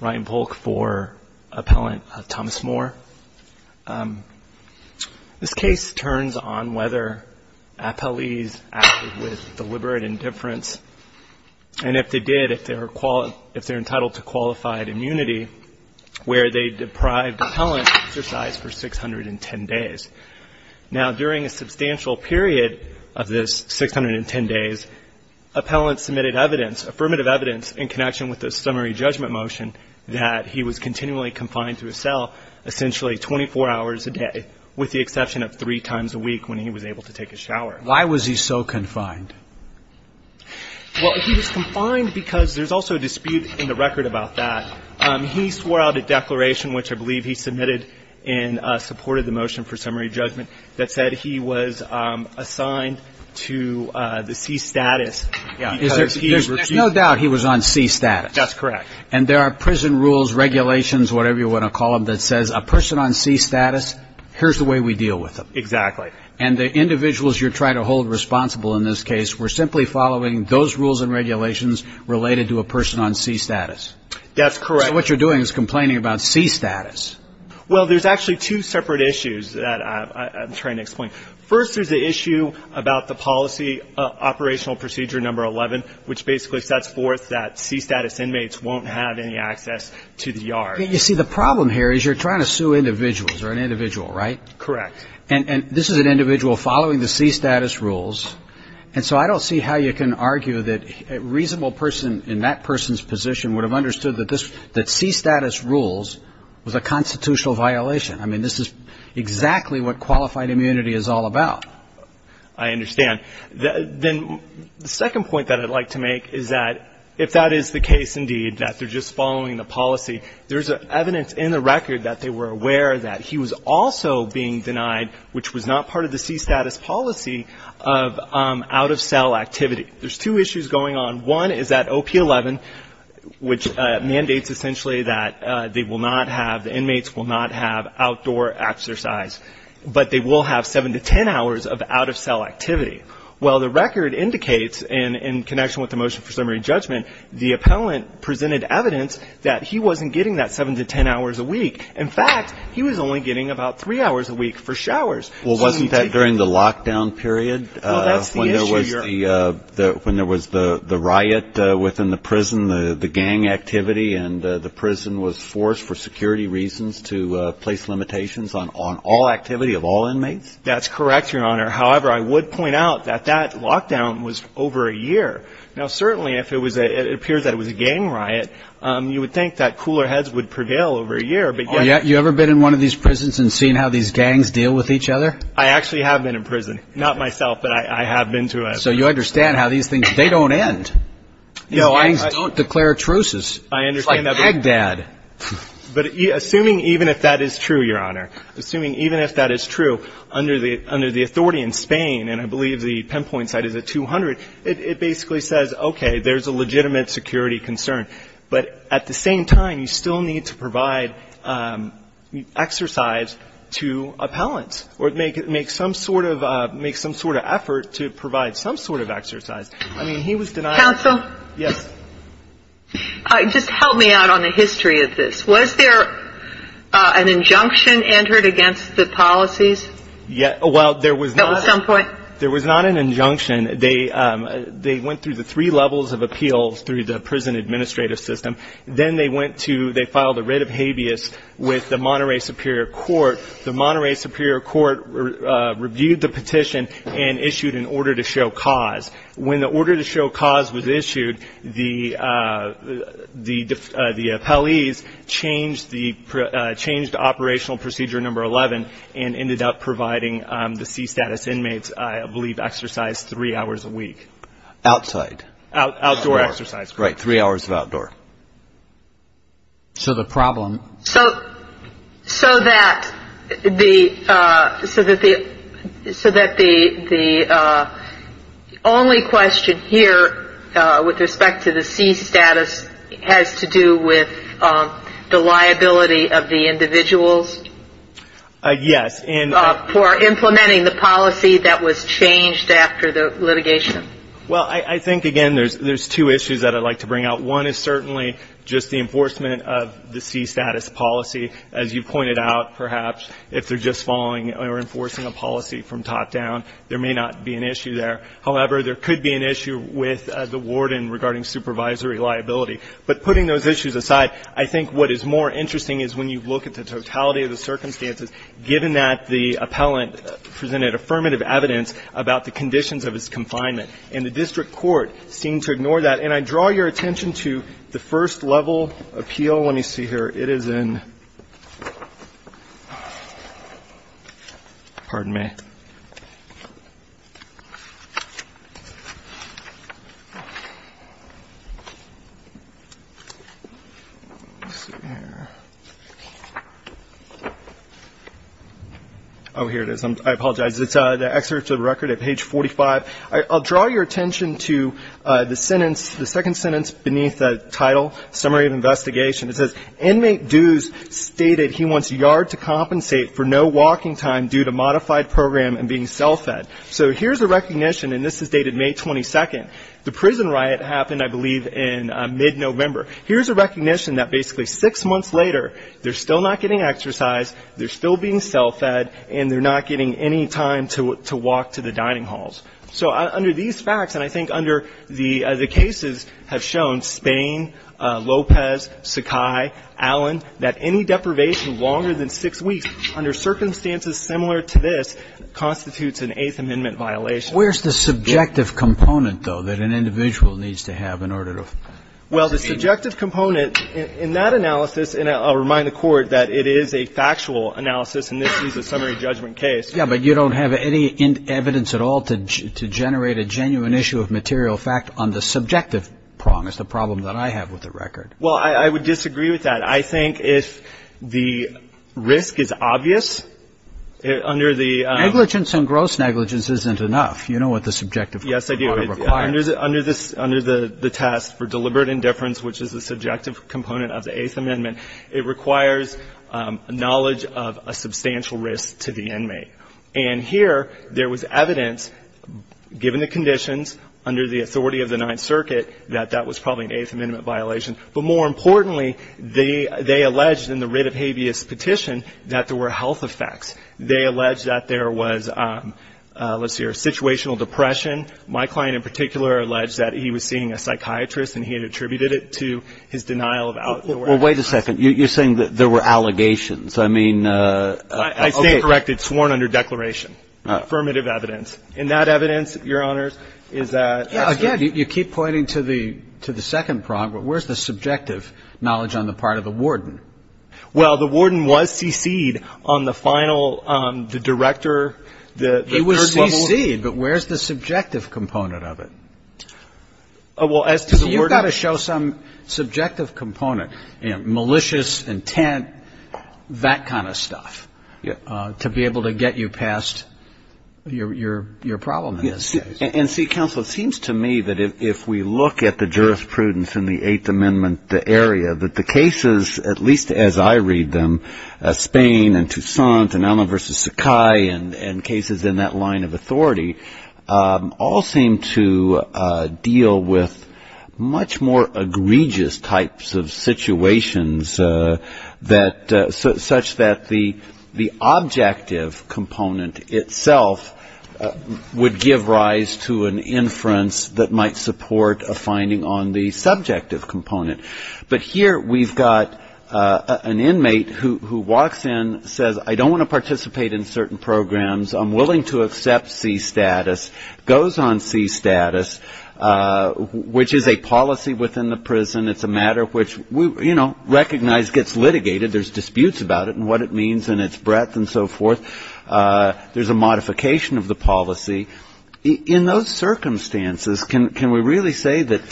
Ryan Volk for Appellant Thomas Moore. This case turns on whether appellees acted with deliberate indifference. And if they did, if they're entitled to qualified immunity, where they deprived appellant exercise for 610 days. Now, during a substantial period of this 610 days, appellant submitted evidence, affirmative evidence, in connection with the summary judgment motion that he was continually confined to a cell essentially 24 hours a day, with the exception of three times a week when he was able to take a shower. Why was he so confined? Well, he was confined because there's also a dispute in the record about that. He swore out a declaration, which I believe he submitted and supported the motion for summary judgment, that said he was assigned to the C status. There's no doubt he was on C status. That's correct. And there are prison rules, regulations, whatever you want to call them, that says, a person on C status, here's the way we deal with them. Exactly. And the individuals you're trying to hold responsible in this case were simply following those rules and regulations related to a person on C status. That's correct. So what you're doing is complaining about C status. Well, there's actually two separate issues that I'm trying to explain. First, there's the issue about the policy operational procedure number 11, which basically sets forth that C status inmates won't have any access to the yard. You see, the problem here is you're trying to sue individuals, or an individual, right? Correct. And this is an individual following the C status rules, and so I don't see how you can argue that a reasonable person in that person's position would have understood that C status rules was a constitutional violation. I mean, this is exactly what qualified immunity is all about. I understand. Then the second point that I'd like to make is that if that is the case indeed, that they're just following the policy, there's evidence in the record that they were aware that he was also being denied, which was not part of the C status policy, of out-of-cell activity. There's two issues going on. One is that OP11, which mandates essentially that they will not have, the inmates will not have outdoor exercise, but they will have seven to ten hours of out-of-cell activity. Well, the record indicates, in connection with the motion for summary judgment, the appellant presented evidence that he wasn't getting that seven to ten hours a week. In fact, he was only getting about three hours a week for showers. Well, wasn't that during the lockdown period when there was the riot within the prison, the gang activity, and the prison was forced for security reasons to place limitations on all activity of all inmates? That's correct, Your Honor. However, I would point out that that lockdown was over a year. Now, certainly, if it appears that it was a gang riot, you would think that cooler heads would prevail over a year. You ever been in one of these prisons and seen how these gangs deal with each other? I actually have been in prison. Not myself, but I have been to it. So you understand how these things, they don't end. These gangs don't declare truces. It's like Baghdad. But assuming even if that is true, Your Honor, assuming even if that is true, under the authority in Spain, and I believe the pinpoint site is at 200, it basically says, okay, there's a legitimate security concern. But at the same time, you still need to provide exercise to appellants or make some sort of effort to provide some sort of exercise. I mean, he was denied. Counsel? Yes. Just help me out on the history of this. Was there an injunction entered against the policies? At some point? There was not an injunction. They went through the three levels of appeals through the prison administrative system. Then they went to they filed a writ of habeas with the Monterey Superior Court. The Monterey Superior Court reviewed the petition and issued an order to show cause. When the order to show cause was issued, the appellees changed the operational procedure number 11 and ended up providing the C-status inmates, I believe, exercise three hours a week. Outside. Outdoor exercise. Right. Three hours of outdoor. So the problem. So that the only question here with respect to the C-status has to do with the liability of the individuals? Yes. For implementing the policy that was changed after the litigation? Well, I think, again, there's two issues that I'd like to bring out. One is certainly just the enforcement of the C-status policy. As you pointed out, perhaps, if they're just following or enforcing a policy from top down, there may not be an issue there. However, there could be an issue with the warden regarding supervisory liability. But putting those issues aside, I think what is more interesting is when you look at the totality of the circumstances, given that the appellant presented affirmative evidence about the conditions of his confinement and the district court seemed to ignore that. And I draw your attention to the first-level appeal. Let me see here. It is in, pardon me. Oh, here it is. I apologize. It's the excerpt of the record at page 45. I'll draw your attention to the sentence, the second sentence beneath the title, summary of investigation. It says, Inmate Dews stated he wants yard to compensate for no walking time due to modified program and being self-fed. So here's a recognition, and this is dated May 22nd. The prison riot happened, I believe, in mid-November. Here's a recognition that basically six months later, they're still not getting exercise, they're still being self-fed, and they're not getting any time to walk to the dining halls. So under these facts, and I think under the cases have shown, Spain, Lopez, Sakai, Allen, that any deprivation longer than six weeks under circumstances similar to this constitutes an Eighth Amendment violation. Where's the subjective component, though, that an individual needs to have in order to proceed? Well, the subjective component in that analysis, and I'll remind the Court that it is a factual analysis, and this is a summary judgment case. Yes, but you don't have any evidence at all to generate a genuine issue of material fact on the subjective prong. It's the problem that I have with the record. Well, I would disagree with that. I think if the risk is obvious, under the ‑‑ Negligence and gross negligence isn't enough. You know what the subjective requirement requires. Yes, I do. Under the test for deliberate indifference, which is a subjective component of the Eighth Amendment, it requires knowledge of a substantial risk to the inmate. And here there was evidence, given the conditions under the authority of the Ninth Circuit, that that was probably an Eighth Amendment violation. But more importantly, they alleged in the writ of habeas petition that there were health effects. They alleged that there was, let's hear, situational depression. My client in particular alleged that he was seeing a psychiatrist and he had attributed it to his denial of out ‑‑ Well, wait a second. You're saying that there were allegations. I mean ‑‑ I say it correctly. It's sworn under declaration. Affirmative evidence. And that evidence, Your Honors, is that ‑‑ Again, you keep pointing to the second prong, but where's the subjective knowledge on the part of the warden? Well, the warden was CC'd on the final, the director, the third level. He was CC'd, but where's the subjective component of it? Well, as to the warden ‑‑ Well, you've got to show some subjective component, you know, malicious intent, that kind of stuff, to be able to get you past your problem in this case. And, see, counsel, it seems to me that if we look at the jurisprudence in the Eighth Amendment area, that the cases, at least as I read them, Spain and Toussaint and Alma v. Sakai and cases in that line of authority, all seem to deal with much more egregious types of situations that ‑‑ such that the objective component itself would give rise to an inference that might support a finding on the subjective component. But here we've got an inmate who walks in, says, I don't want to participate in certain programs, I'm willing to accept C status, goes on C status, which is a policy within the prison, it's a matter which we, you know, recognize gets litigated. There's disputes about it and what it means and its breadth and so forth. There's a modification of the policy. In those circumstances, can we really say that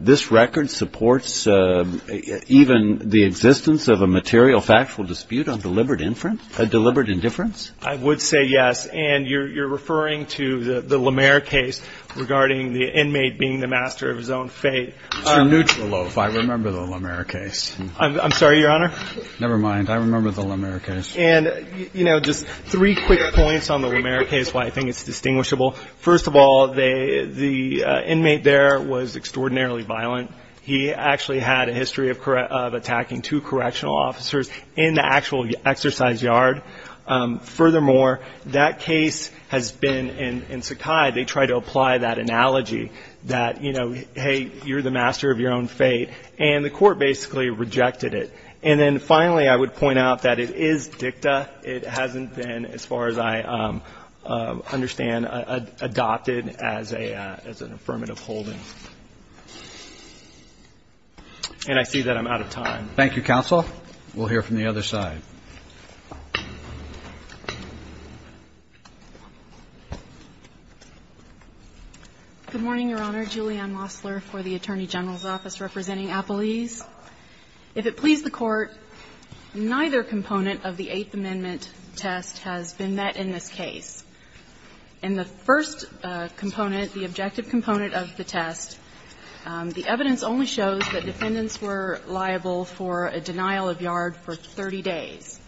this record supports even the existence of a material factual dispute on deliberate indifference? I would say yes. And you're referring to the Lamer case regarding the inmate being the master of his own fate. It's your neutral loaf. I remember the Lamer case. I'm sorry, Your Honor? Never mind. I remember the Lamer case. And, you know, just three quick points on the Lamer case, why I think it's distinguishable. First of all, the inmate there was extraordinarily violent. He actually had a history of attacking two correctional officers in the actual exercise yard. Furthermore, that case has been, in Sakai, they try to apply that analogy that, you know, hey, you're the master of your own fate. And the court basically rejected it. And then, finally, I would point out that it is dicta. It hasn't been, as far as I understand, adopted as an affirmative holding. And I see that I'm out of time. Thank you, counsel. We'll hear from the other side. Good morning, Your Honor. Julianne Mossler for the Attorney General's Office representing Appalese. If it please the Court, neither component of the Eighth Amendment test has been met in this case. In the first component, the objective component of the test, the evidence only shows that defendants were liable for a denial of yard for 30 days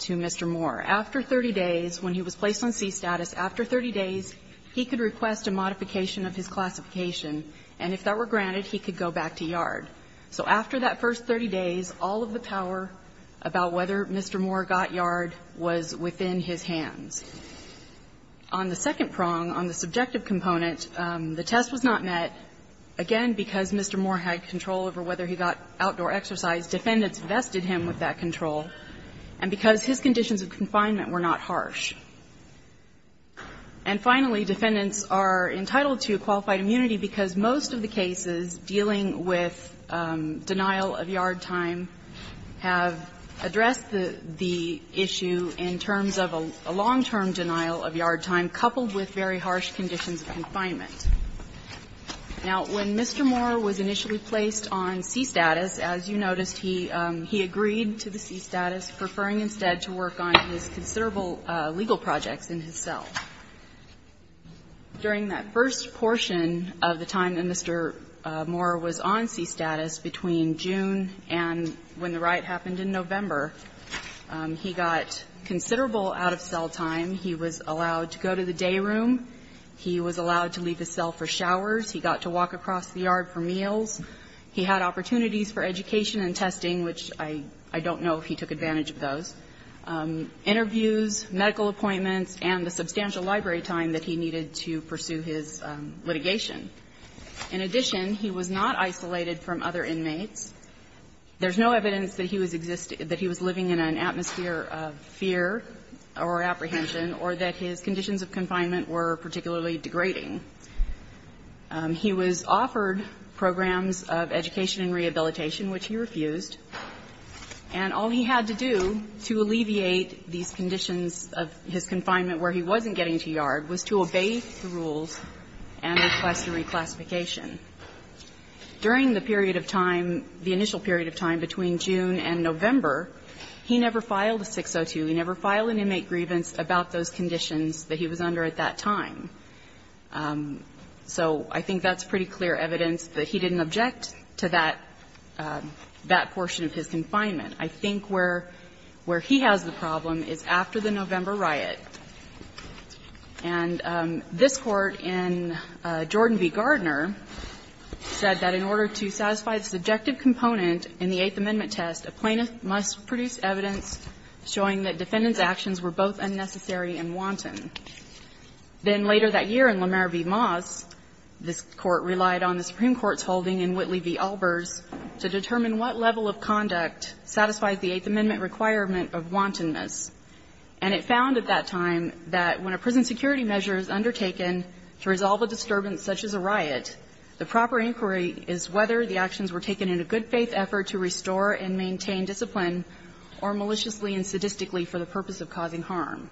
to Mr. Moore. After 30 days, when he was placed on c-status, after 30 days he could request a modification of his classification, and if that were granted, he could go back to yard. So after that first 30 days, all of the power about whether Mr. Moore got yard was within his hands. On the second prong, on the subjective component, the test was not met. Again, because Mr. Moore had control over whether he got outdoor exercise, defendants vested him with that control. And because his conditions of confinement were not harsh. And, finally, defendants are entitled to qualified immunity because most of the cases dealing with denial of yard time have addressed the issue in terms of a long-term denial of yard time, coupled with very harsh conditions of confinement. Now, when Mr. Moore was initially placed on c-status, as you noticed, he agreed to the c-status, preferring instead to work on his considerable legal projects in his cell. During that first portion of the time that Mr. Moore was on c-status, between June and when the riot happened in November, he got considerable out-of-cell time. He was allowed to go to the day room. He was allowed to leave his cell for showers. He got to walk across the yard for meals. He had opportunities for education and testing, which I don't know if he took advantage of those. Interviews, medical appointments, and the substantial library time that he needed to pursue his litigation. In addition, he was not isolated from other inmates. There's no evidence that he was living in an atmosphere of fear or apprehension or that his conditions of confinement were particularly degrading. He was offered programs of education and rehabilitation, which he refused. And all he had to do to alleviate these conditions of his confinement where he wasn't getting to yard was to obey the rules and request a reclassification. During the period of time, the initial period of time between June and November, he never filed a 602. He never filed an inmate grievance about those conditions that he was under at that time. So I think that's pretty clear evidence that he didn't object to that, that portion of his confinement. I think where he has the problem is after the November riot. And this Court in Jordan v. Gardner said that in order to satisfy the subjective component in the Eighth Amendment test, a plaintiff must produce evidence showing that defendants' actions were both unnecessary and wanton. Then later that year in Lamar v. Moss, this Court relied on the Supreme Court's findings to determine whether that level of conduct satisfies the Eighth Amendment requirement of wantonness. And it found at that time that when a prison security measure is undertaken to resolve a disturbance such as a riot, the proper inquiry is whether the actions were taken in a good-faith effort to restore and maintain discipline or maliciously and sadistically for the purpose of causing harm.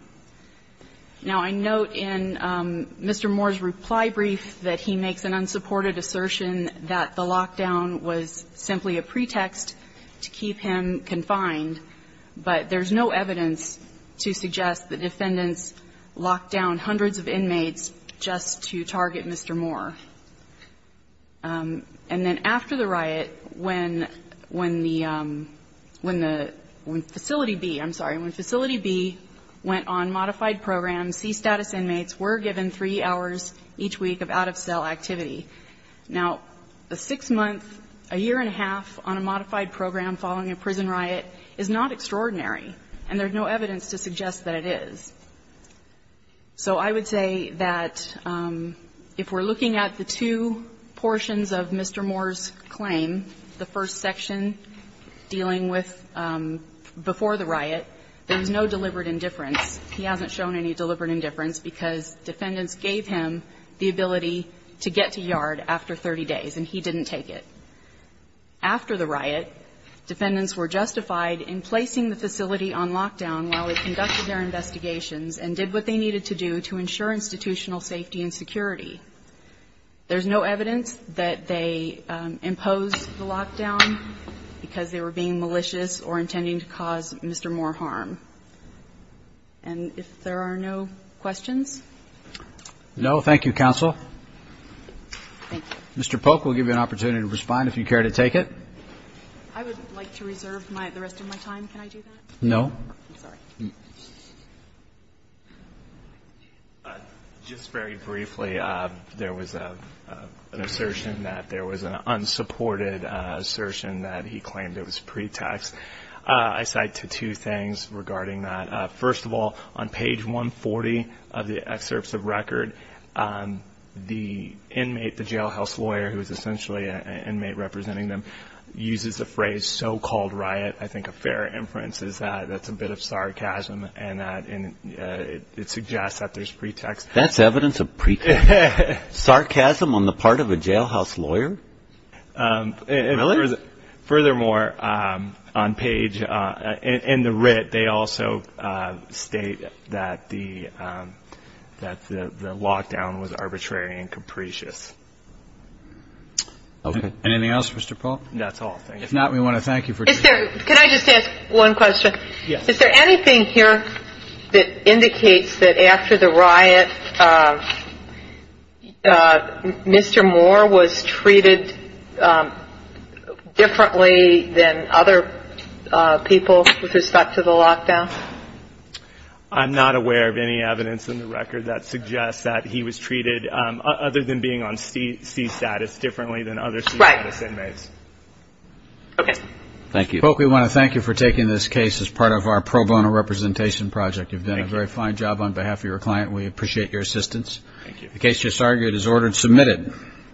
Now, I note in Mr. Moore's reply brief that he makes an unsupported assertion that the lockdown was simply a pretext to keep him confined, but there's no evidence to suggest that defendants locked down hundreds of inmates just to target Mr. Moore. And then after the riot, when the Facility B, I'm sorry, when Facility B went on modified programs, C-status inmates were given 3 hours each week of out-of-cell activity. Now, a 6-month, a year and a half on a modified program following a prison riot is not extraordinary, and there's no evidence to suggest that it is. So I would say that if we're looking at the two portions of Mr. Moore's claim, the first section dealing with before the riot, there's no deliberate indifference. He hasn't shown any deliberate indifference because defendants gave him the ability to get to yard after 30 days, and he didn't take it. After the riot, defendants were justified in placing the facility on lockdown while they conducted their investigations and did what they needed to do to ensure institutional safety and security. There's no evidence that they imposed the lockdown because they were being malicious or intending to cause Mr. Moore harm. And if there are no questions? No. Thank you, counsel. Thank you. Mr. Polk will give you an opportunity to respond if you care to take it. I would like to reserve the rest of my time. Can I do that? No. I'm sorry. Just very briefly, there was an assertion that there was an unsupported assertion that he claimed it was pretext. I cite two things regarding that. First of all, on page 140 of the excerpts of record, the inmate, the jailhouse lawyer who is essentially an inmate representing them, uses the phrase so-called riot. I think a fair inference is that that's a bit of sarcasm and that it suggests that there's pretext. That's evidence of pretext. Sarcasm on the part of a jailhouse lawyer? Really? Furthermore, on page, in the writ, they also state that the lockdown was arbitrary and capricious. OK. Anything else, Mr. Polk? That's all. Thank you. If not, we want to thank you for- Can I just ask one question? Yes. Is there anything here that indicates that after the riot, Mr. Moore was treated differently than other people with respect to the lockdown? I'm not aware of any evidence in the record that suggests that he was treated, other than being on C-status, differently than other C-status inmates. Right. OK. Thank you. Mr. Polk, we want to thank you for taking this case as part of our pro bono representation project. You've done a very fine job on behalf of your client. We appreciate your assistance. Thank you. The case just argued is ordered submitted.